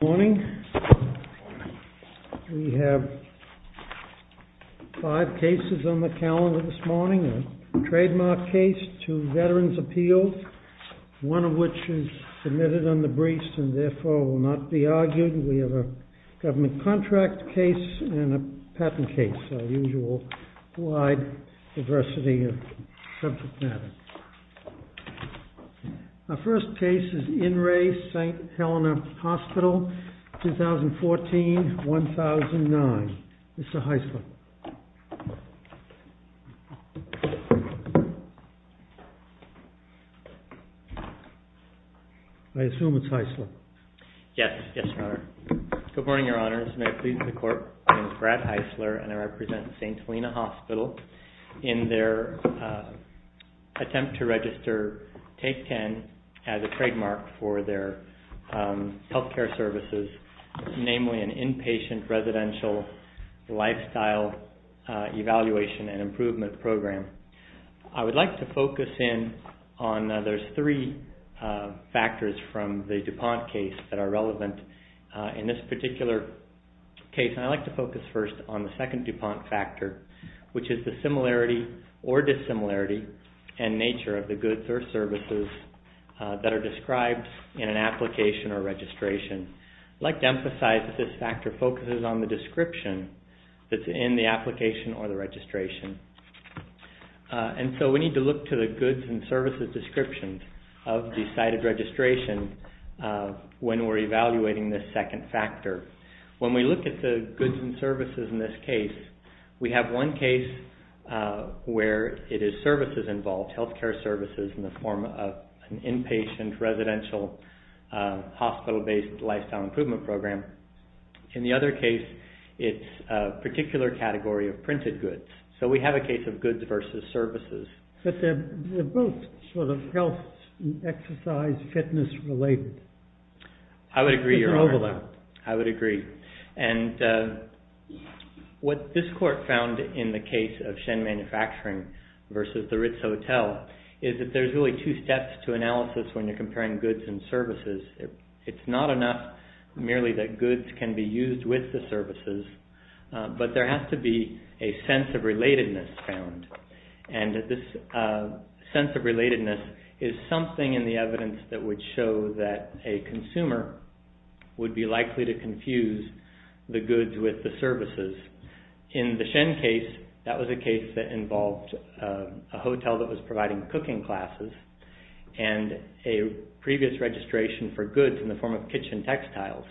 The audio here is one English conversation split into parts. Good morning. We have five cases on the calendar this morning, a trademark case, two veterans' appeals, one of which is submitted on the briefs and therefore will not be argued. We have a government contract case and a patent case, our usual wide diversity of subject matter. Our first case is In Re St. Helena Hospital, 2014-2009. Mr. Heisler. I assume it's Heisler. Yes, yes, Your Honor. Good morning, Your Honors. May I please the court? My name is Brad Heisler and I represent St. Helena Hospital in their attempt to register Take 10 as a trademark for their healthcare services, namely an inpatient residential lifestyle evaluation and improvement program. I would like to focus in on there's three factors from the DuPont case that are relevant in this particular case. I'd like to focus first on the second DuPont factor, which is the similarity or dissimilarity in nature of the goods or services that are described in an application or registration. I'd like to emphasize that this factor focuses on the description that's in the application or the registration. And so we need to look to the goods and services descriptions of the cited registration when we're evaluating this second factor. When we look at the goods and services in this case, we have one case where it is services involved, healthcare services in the form of an inpatient residential hospital-based lifestyle improvement program. In the other case, it's a particular category of printed goods. So we have a case of goods versus services. But they're both sort of health, exercise, fitness related. I would agree, Your Honor. I would agree. And what this court found in the case of Shen Manufacturing versus the Ritz Hotel is that there's really two steps to analysis when you're comparing goods and services. It's not enough merely that goods can be used with the services, but there has to be a sense of relatedness found. And this sense of relatedness is something in the evidence that would show that a consumer would be likely to confuse the goods with the services. In the Shen case, that was a case that involved a hotel that was providing cooking classes and a previous registration for goods in the form of kitchen textiles.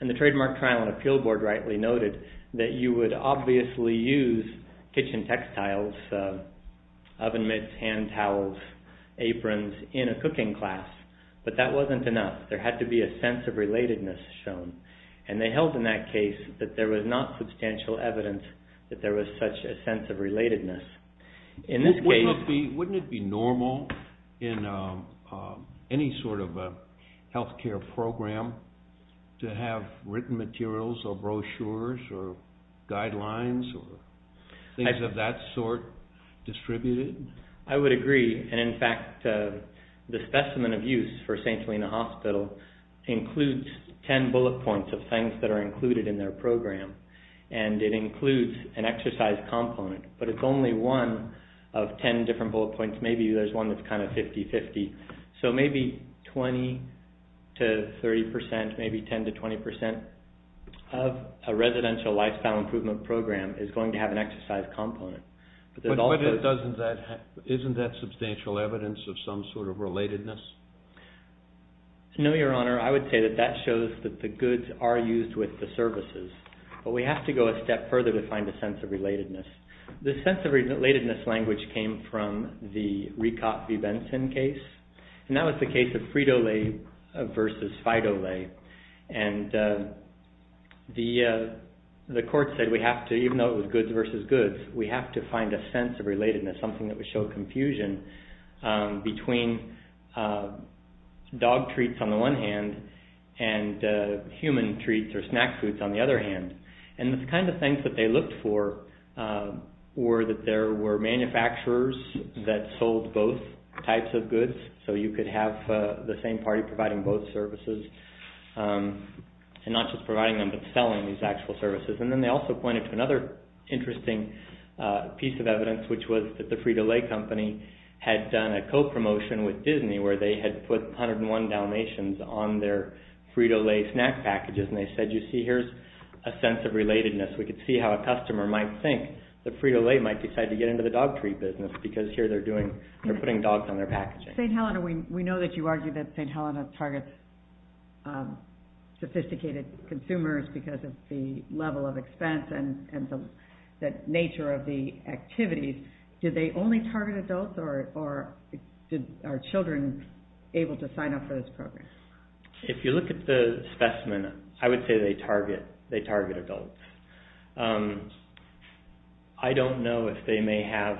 And the trademark trial and appeal board rightly noted that you would obviously use kitchen textiles, oven mitts, hand towels, aprons in a cooking class. But that wasn't enough. There had to be a sense of relatedness shown. And they held in that case that there was not substantial evidence that there was such a sense of relatedness. Wouldn't it be normal in any sort of a health care program to have written materials or brochures or guidelines or things of that sort distributed? I would agree. And in fact, the specimen of use for St. Helena Hospital includes ten bullet points of things that are included in their program. And it includes an exercise component, but it's only one of ten different bullet points. Maybe there's one that's kind of 50-50. So maybe 20 to 30 percent, maybe 10 to 20 percent of a residential lifestyle improvement program is going to have an exercise component. But isn't that substantial evidence of some sort of relatedness? No, Your Honor. I would say that that shows that the goods are used with the services. But we have to go a step further to find a sense of relatedness. The sense of relatedness language came from the Ricotte v. Benson case. And that was the case of Frito-Lay versus Fido-Lay. And the court said we have to, even though it was goods versus goods, we have to find a sense of relatedness, something that would show confusion between dog treats on the one hand and human treats or snack foods on the other hand. And the kind of things that they looked for were that there were manufacturers that sold both types of goods. So you could have the same party providing both services and not just providing them but selling these actual services. And then they also pointed to another interesting piece of evidence, which was that the Frito-Lay company had done a co-promotion with Disney where they had put 101 donations on their Frito-Lay snack packages. And they said, you see, here's a sense of relatedness. We could see how a customer might think that Frito-Lay might decide to get into the dog treat business because here they're putting dogs on their packaging. In St. Helena, we know that you argue that St. Helena targets sophisticated consumers because of the level of expense and the nature of the activities. Did they only target adults or are children able to sign up for this program? If you look at the specimen, I would say they target adults. I don't know if they may have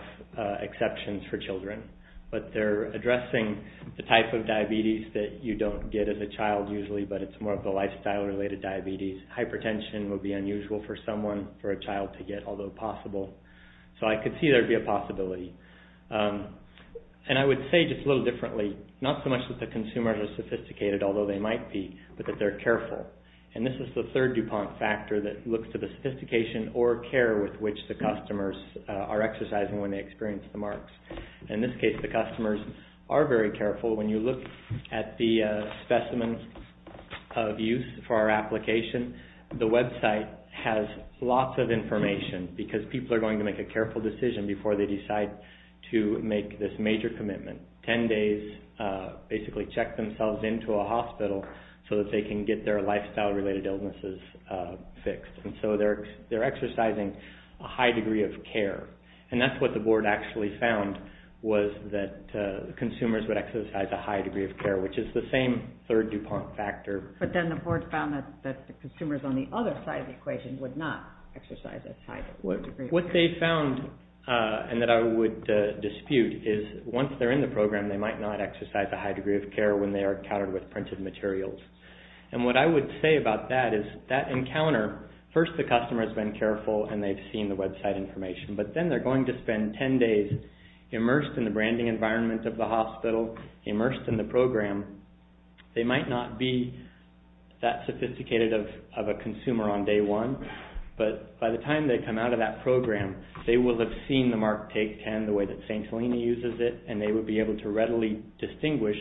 exceptions for children, but they're addressing the type of diabetes that you don't get as a child usually, but it's more of a lifestyle-related diabetes. Hypertension would be unusual for someone for a child to get, although possible. So I could see there would be a possibility. And I would say just a little differently, not so much that the consumers are sophisticated, although they might be, but that they're careful. And this is the third DuPont factor that looks to the sophistication or care with which the customers are exercising when they experience the marks. In this case, the customers are very careful. When you look at the specimens of use for our application, the website has lots of information because people are going to make a careful decision before they decide to make this major commitment. Basically check themselves into a hospital so that they can get their lifestyle-related illnesses fixed. And so they're exercising a high degree of care. And that's what the board actually found was that consumers would exercise a high degree of care, which is the same third DuPont factor. But then the board found that the consumers on the other side of the equation would not exercise a high degree of care. And what they found and that I would dispute is once they're in the program, they might not exercise a high degree of care when they are encountered with printed materials. And what I would say about that is that encounter, first the customer has been careful and they've seen the website information, but then they're going to spend 10 days immersed in the branding environment of the hospital, immersed in the program. They might not be that sophisticated of a consumer on day one, but by the time they come out of that program, they will have seen the Mark Take 10 the way that St. Helena uses it and they would be able to readily distinguish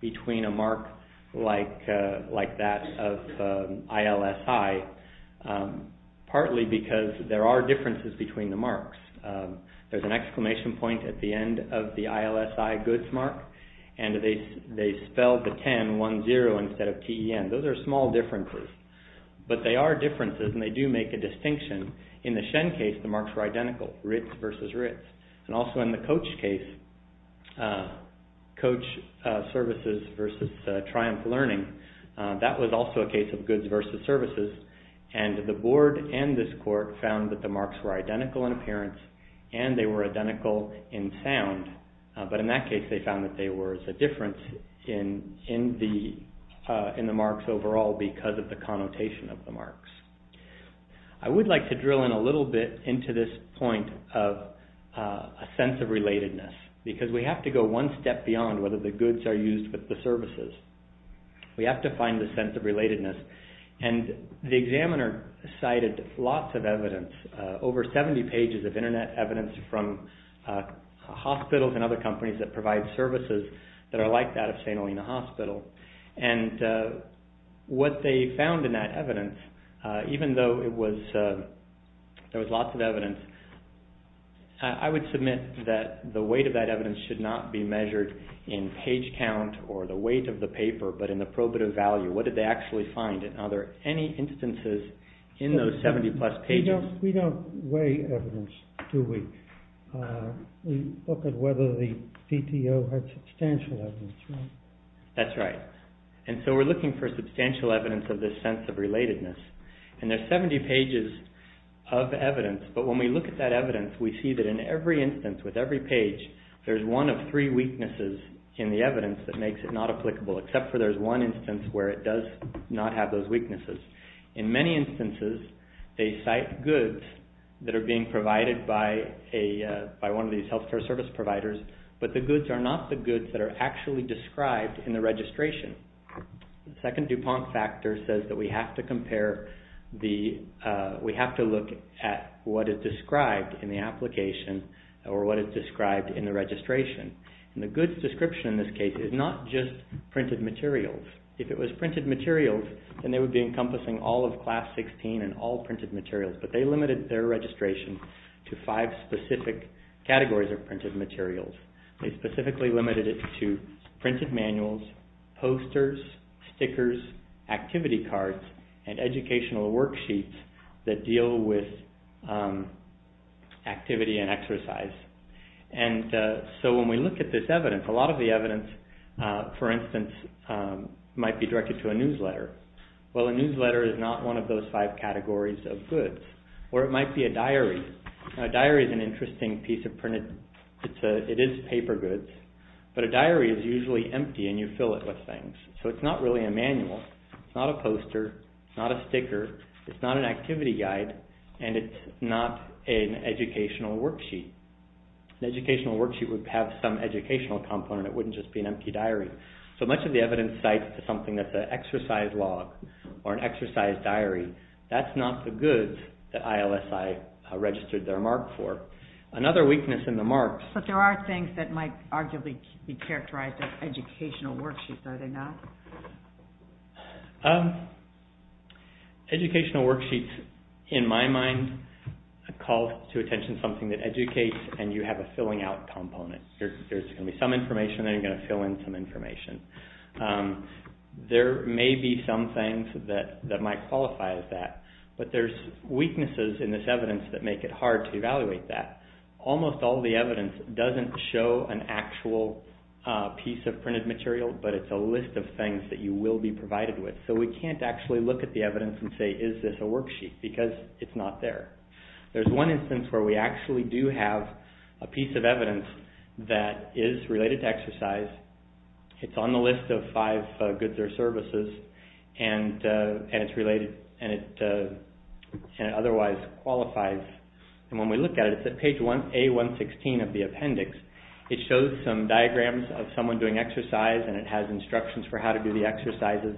between a mark like that of ILSI, partly because there are differences between the marks. There's an exclamation point at the end of the ILSI goods mark and they spelled the 10, 1-0, instead of T-E-N. Those are small differences, but they are differences and they do make a distinction. In the Shen case, the marks were identical, RITS versus RITS. And also in the Coach case, Coach Services versus Triumph Learning, that was also a case of goods versus services. And the board and this court found that the marks were identical in appearance and they were identical in sound. But in that case, they found that there was a difference in the marks overall because of the connotation of the marks. I would like to drill in a little bit into this point of a sense of relatedness because we have to go one step beyond whether the goods are used with the services. We have to find the sense of relatedness and the examiner cited lots of evidence, over 70 pages of Internet evidence from hospitals and other companies that provide services that are like that of St. Helena Hospital. And what they found in that evidence, even though there was lots of evidence, I would submit that the weight of that evidence should not be measured in page count or the weight of the paper, but in the probative value. What did they actually find? Are there any instances in those 70 plus pages? We don't weigh evidence, do we? We look at whether the PTO had substantial evidence, right? That's right. And so we're looking for substantial evidence of this sense of relatedness. And there's 70 pages of evidence, but when we look at that evidence, we see that in every instance, with every page, there's one of three weaknesses in the evidence that makes it not applicable, except for there's one instance where it does not have those weaknesses. In many instances, they cite goods that are being provided by one of these health care service providers, but the goods are not the goods that are actually described in the registration. The second DuPont factor says that we have to compare the, we have to look at what is described in the application or what is described in the registration. And the goods description in this case is not just printed materials. If it was printed materials, then they would be encompassing all of class 16 and all printed materials, but they limited their registration to five specific categories of printed materials. They specifically limited it to printed manuals, posters, stickers, activity cards, and educational worksheets that deal with activity and exercise. And so when we look at this evidence, a lot of the evidence, for instance, might be directed to a newsletter. Well, a newsletter is not one of those five categories of goods. Or it might be a diary. A diary is an interesting piece of printed, it is paper goods, but a diary is usually empty and you fill it with things. So it's not really a manual, it's not a poster, it's not a sticker, it's not an activity guide, and it's not an educational worksheet. An educational worksheet would have some educational component, it wouldn't just be an empty diary. So much of the evidence cites something that's an exercise log or an exercise diary. That's not the goods that ILSI registered their mark for. Another weakness in the marks... But there are things that might arguably be characterized as educational worksheets, are they not? Educational worksheets, in my mind, call to attention something that educates and you have a filling out component. There's going to be some information and then you're going to fill in some information. There may be some things that might qualify as that, but there's weaknesses in this evidence that make it hard to evaluate that. Almost all the evidence doesn't show an actual piece of printed material, but it's a list of things that you will be provided with. So we can't actually look at the evidence and say, is this a worksheet because it's not there. There's one instance where we actually do have a piece of evidence that is related to exercise. It's on the list of five goods or services and it's related and it otherwise qualifies. And when we look at it, it's at page A116 of the appendix. It shows some diagrams of someone doing exercise and it has instructions for how to do the exercises.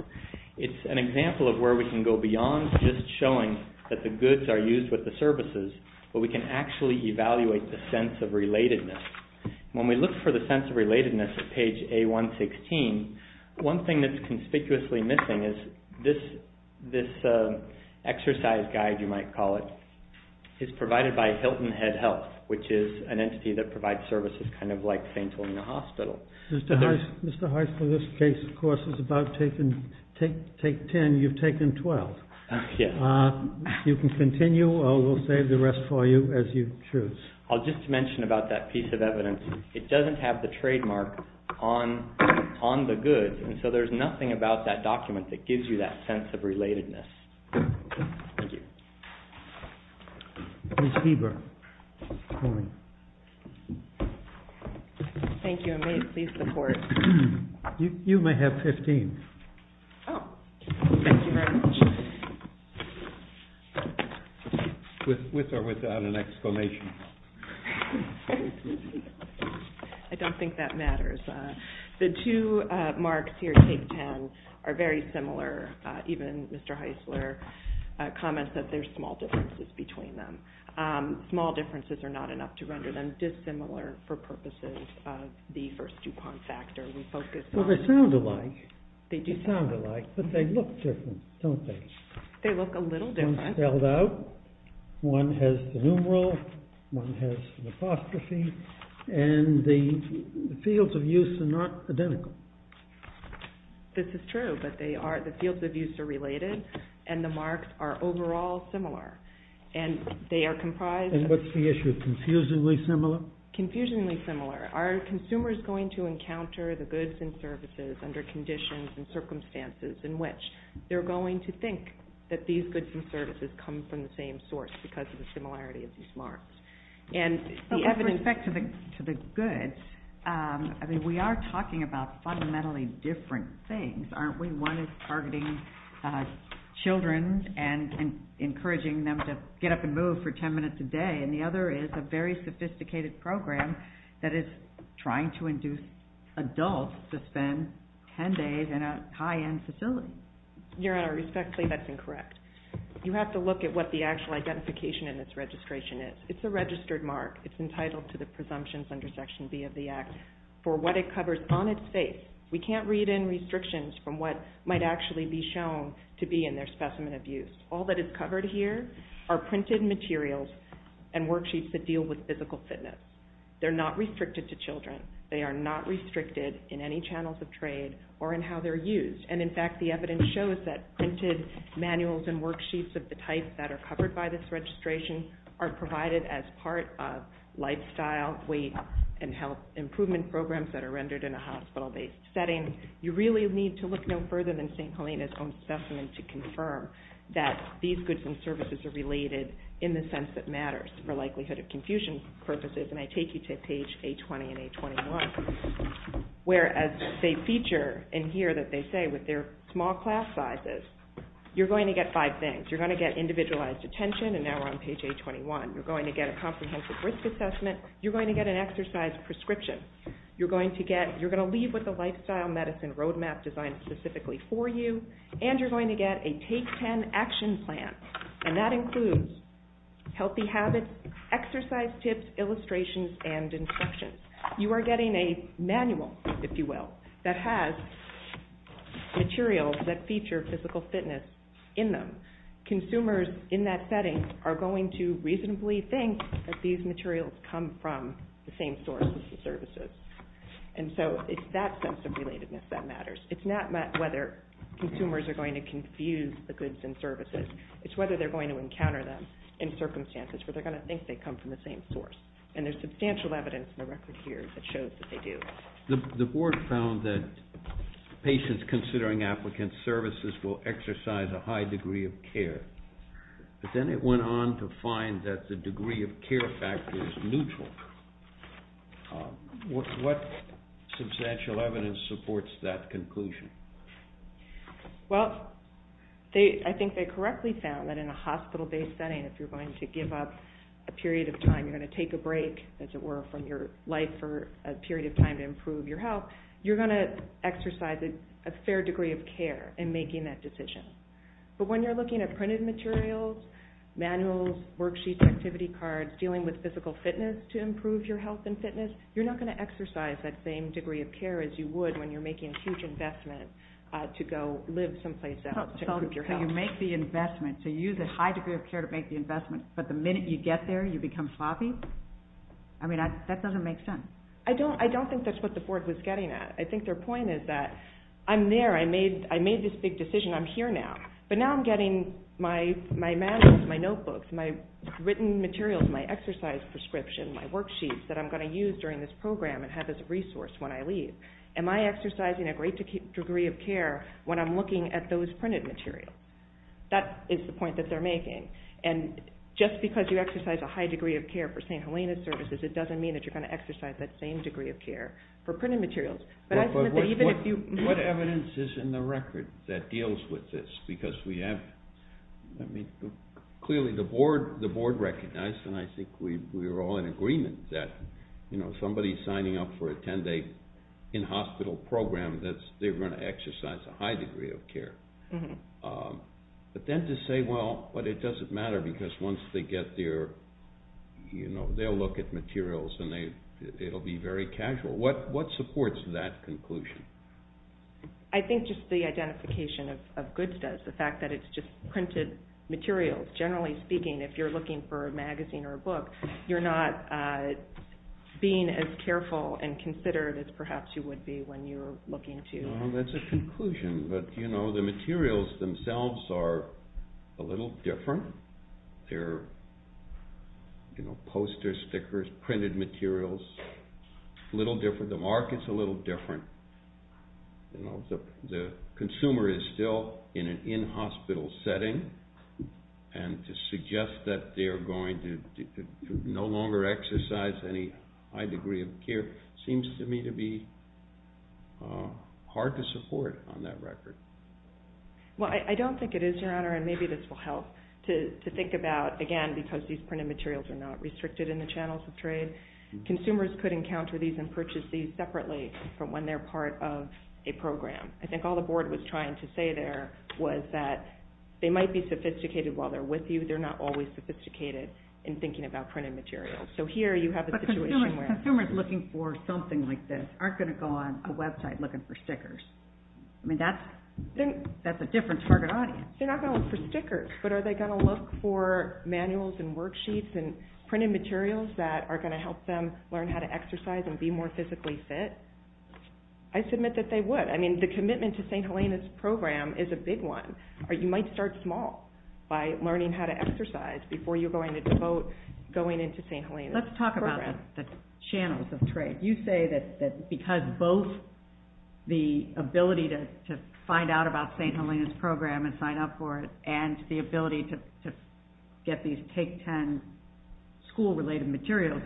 It's an example of where we can go beyond just showing that the goods are used with the services, but we can actually evaluate the sense of relatedness. When we look for the sense of relatedness at page A116, one thing that's conspicuously missing is this exercise guide, you might call it. It's provided by Hilton Head Health, which is an entity that provides services kind of like St. Helena Hospital. Mr. Heiss, for this case, of course, it's about take 10, you've taken 12. You can continue or we'll save the rest for you as you choose. I'll just mention about that piece of evidence. It doesn't have the trademark on the goods, and so there's nothing about that document that gives you that sense of relatedness. Thank you. Ms. Heber. Thank you, and may it please the Court. You may have 15. Thank you very much. With or without an exclamation. I don't think that matters. The two marks here, take 10, are very similar. Even Mr. Heissler comments that there's small differences between them. Small differences are not enough to render them dissimilar for purposes of the first DuPont factor. Well, they sound alike. They do sound alike, but they look different, don't they? They look a little different. One's spelled out. One has the numeral. One has an apostrophe. And the fields of use are not identical. This is true, but the fields of use are related, and the marks are overall similar. And they are comprised of... And what's the issue? Confusingly similar? Confusingly similar. Are consumers going to encounter the goods and services under conditions and circumstances in which they're going to think that these goods and services come from the same source because of the similarity of these marks? With respect to the goods, we are talking about fundamentally different things, aren't we? One is targeting children and encouraging them to get up and move for 10 minutes a day, and the other is a very sophisticated program that is trying to induce adults to spend 10 days in a high-end facility. Your Honor, respectfully, that's incorrect. You have to look at what the actual identification in this registration is. It's a registered mark. It's entitled to the presumptions under Section B of the Act for what it covers on its face. We can't read in restrictions from what might actually be shown to be in their specimen of use. All that is covered here are printed materials and worksheets that deal with physical fitness. They're not restricted to children. They are not restricted in any channels of trade or in how they're used. And, in fact, the evidence shows that printed manuals and worksheets of the type that are covered by this registration are provided as part of lifestyle, weight, and health improvement programs that are rendered in a hospital-based setting. You really need to look no further than St. Helena's own specimen to confirm that these goods and services are related in the sense that matters for likelihood of confusion purposes, and I take you to page A20 and A21, whereas they feature in here that they say with their small class sizes, you're going to get five things. You're going to get individualized attention, and now we're on page A21. You're going to get a comprehensive risk assessment. You're going to get an exercise prescription. You're going to leave with a lifestyle medicine roadmap designed specifically for you, and you're going to get a Take 10 action plan, and that includes healthy habits, exercise tips, illustrations, and instructions. You are getting a manual, if you will, that has materials that feature physical fitness in them. Consumers in that setting are going to reasonably think that these materials come from the same source as the services, and so it's that sense of relatedness that matters. It's not whether consumers are going to confuse the goods and services. It's whether they're going to encounter them in circumstances where they're going to think they come from the same source, and there's substantial evidence in the record here that shows that they do. The board found that patients considering applicant services will exercise a high degree of care, but then it went on to find that the degree of care factor is neutral. What substantial evidence supports that conclusion? Well, I think they correctly found that in a hospital-based setting, if you're going to give up a period of time, you're going to take a break, as it were, from your life for a period of time to improve your health, you're going to exercise a fair degree of care in making that decision. But when you're looking at printed materials, manuals, worksheets, activity cards, dealing with physical fitness to improve your health and fitness, you're not going to exercise that same degree of care as you would when you're making a huge investment to go live someplace else to improve your health. So you make the investment, so you use a high degree of care to make the investment, but the minute you get there, you become sloppy? I mean, that doesn't make sense. I don't think that's what the board was getting at. I think their point is that I'm there, I made this big decision, I'm here now, but now I'm getting my manuals, my notebooks, my written materials, my exercise prescription, my worksheets that I'm going to use during this program and have as a resource when I leave. Am I exercising a great degree of care when I'm looking at those printed materials? That is the point that they're making. And just because you exercise a high degree of care for St. Helena's services, it doesn't mean that you're going to exercise that same degree of care for printed materials. But what evidence is in the record that deals with this? Because clearly the board recognized, and I think we were all in agreement, that somebody signing up for a 10-day in-hospital program, they're going to exercise a high degree of care. But then to say, well, but it doesn't matter because once they get there, they'll look at materials and it'll be very casual. What supports that conclusion? I think just the identification of good does. The fact that it's just printed materials. You're not being as careful and considered as perhaps you would be when you're looking to... No, that's a conclusion. But, you know, the materials themselves are a little different. They're, you know, posters, stickers, printed materials. A little different. The market's a little different. The consumer is still in an in-hospital setting. And to suggest that they're going to no longer exercise any high degree of care seems to me to be hard to support on that record. Well, I don't think it is, Your Honor, and maybe this will help to think about, again, because these printed materials are not restricted in the channels of trade. Consumers could encounter these and purchase these separately from when they're part of a program. I think all the Board was trying to say there was that they might be sophisticated while they're with you. They're not always sophisticated in thinking about printed materials. So here you have a situation where... But consumers looking for something like this aren't going to go on a website looking for stickers. I mean, that's a different target audience. They're not going to look for stickers. But are they going to look for manuals and worksheets and printed materials that are going to help them learn how to exercise and be more physically fit? I submit that they would. I mean, the commitment to St. Helena's program is a big one. You might start small by learning how to exercise before you're going into St. Helena's program. Let's talk about the channels of trade. You say that because both the ability to find out about St. Helena's program and sign up for it and the ability to get these Take 10 school-related materials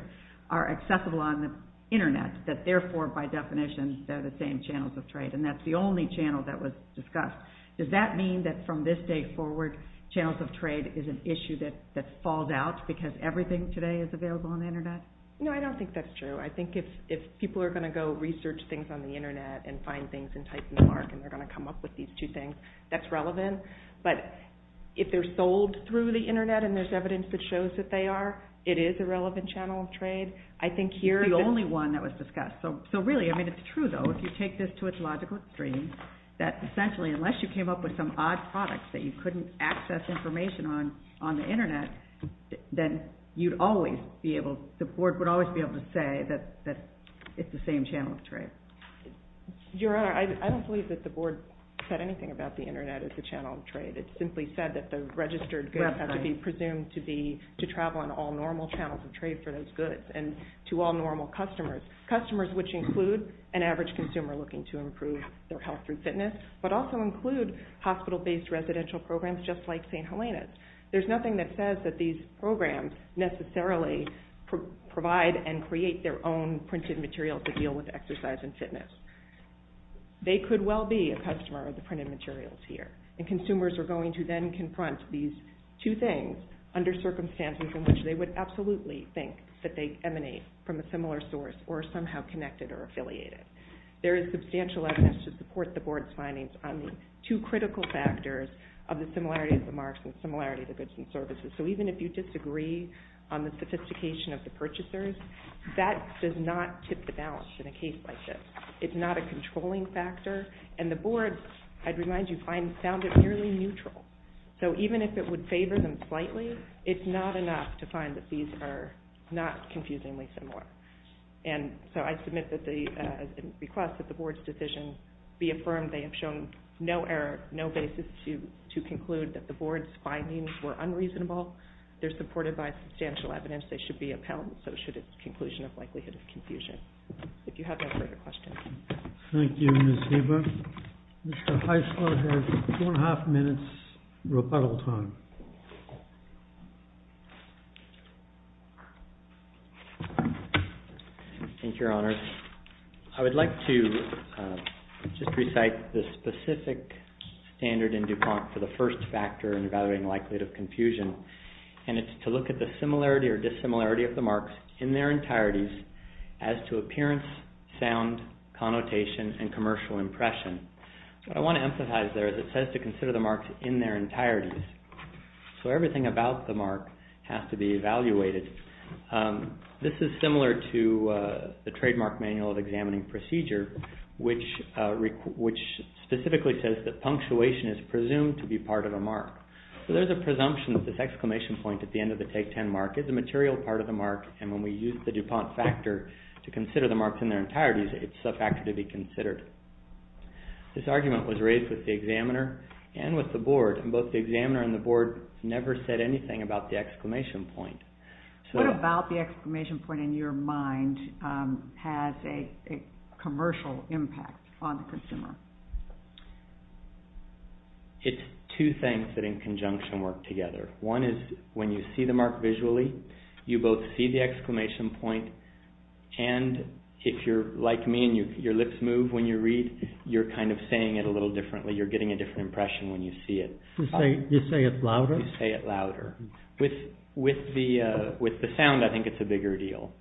are accessible on the Internet, that therefore, by definition, they're the same channels of trade. And that's the only channel that was discussed. Does that mean that from this day forward, channels of trade is an issue that falls out because everything today is available on the Internet? No, I don't think that's true. I think if people are going to go research things on the Internet and find things and type in the mark and they're going to come up with these two things, that's relevant. But if they're sold through the Internet and there's evidence that shows that they are, it is a relevant channel of trade. It's the only one that was discussed. So really, it's true, though, if you take this to its logical stream, that essentially unless you came up with some odd product that you couldn't access information on on the Internet, then the Board would always be able to say that it's the same channel of trade. Your Honor, I don't believe that the Board said anything about the Internet as a channel of trade. It simply said that the registered goods have to be presumed to travel on all normal channels of trade for those goods and to all normal customers, customers which include an average consumer looking to improve their health through fitness, but also include hospital-based residential programs just like St. Helena's. There's nothing that says that these programs necessarily provide and create their own printed material to deal with exercise and fitness. They could well be a customer of the printed materials here, and consumers are going to then confront these two things under circumstances in which they would absolutely think that they emanate from a similar source or are somehow connected or affiliated. There is substantial evidence to support the Board's findings on the two critical factors of the similarity of the marks and the similarity of the goods and services. So even if you disagree on the sophistication of the purchasers, that does not tip the balance in a case like this. It's not a controlling factor. And the Board, I'd remind you, found it nearly neutral. So even if it would favor them slightly, it's not enough to find that these are not confusingly similar. And so I submit the request that the Board's decision be affirmed. They have shown no error, no basis to conclude that the Board's findings were unreasonable. They're supported by substantial evidence. They should be upheld, so should its conclusion of likelihood of confusion. If you have no further questions. Thank you, Ms. Heber. Mr. Heisler has two and a half minutes rebuttal time. Thank you, Your Honors. I would like to just recite the specific standard in DuPont for the first factor in evaluating likelihood of confusion, and it's to look at the similarity or dissimilarity of the marks in their entireties as to appearance, sound, connotation, and commercial impression. What I want to emphasize there is it says to consider the marks in their entireties. So everything about the mark has to be evaluated. This is similar to the Trademark Manual of Examining Procedure, which specifically says that punctuation is presumed to be part of a mark. So there's a presumption that this exclamation point at the end of the Take 10 mark is a material part of the mark, and when we use the DuPont factor to consider the marks in their entireties, it's a factor to be considered. This argument was raised with the examiner and with the board, and both the examiner and the board never said anything about the exclamation point. What about the exclamation point in your mind has a commercial impact on the consumer? It's two things that in conjunction work together. One is when you see the mark visually, you both see the exclamation point, and if you're like me and your lips move when you read, you're kind of saying it a little differently. You're getting a different impression when you see it. You say it louder? You say it louder. With the sound, I think it's a bigger deal.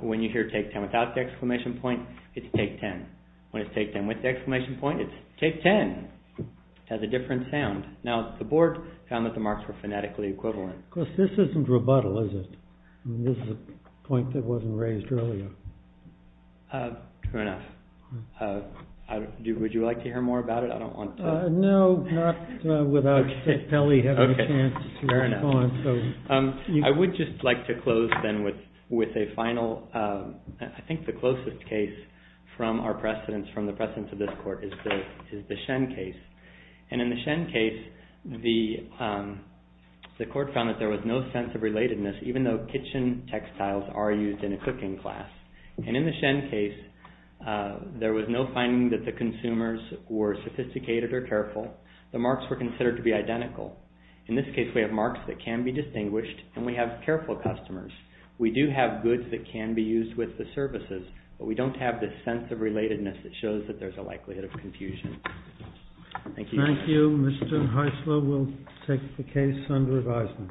When you hear Take 10 without the exclamation point, it's Take 10. When it's Take 10 with the exclamation point, it's Take 10. It has a different sound. Now, the board found that the marks were phonetically equivalent. Of course, this isn't rebuttal, is it? This is a point that wasn't raised earlier. True enough. Would you like to hear more about it? I don't want to. No, not without Kelly having a chance to respond. I would just like to close then with a final, I think the closest case from our precedents, from the precedents of this court, is the Shen case. In the Shen case, the court found that there was no sense of relatedness, even though kitchen textiles are used in a cooking class. In the Shen case, there was no finding that the consumers were sophisticated or careful. The marks were considered to be identical. In this case, we have marks that can be distinguished, and we have careful customers. We do have goods that can be used with the services, but we don't have this sense of relatedness that shows that there's a likelihood of confusion. Thank you. Thank you. Mr. Hyslop will take the case under advisement.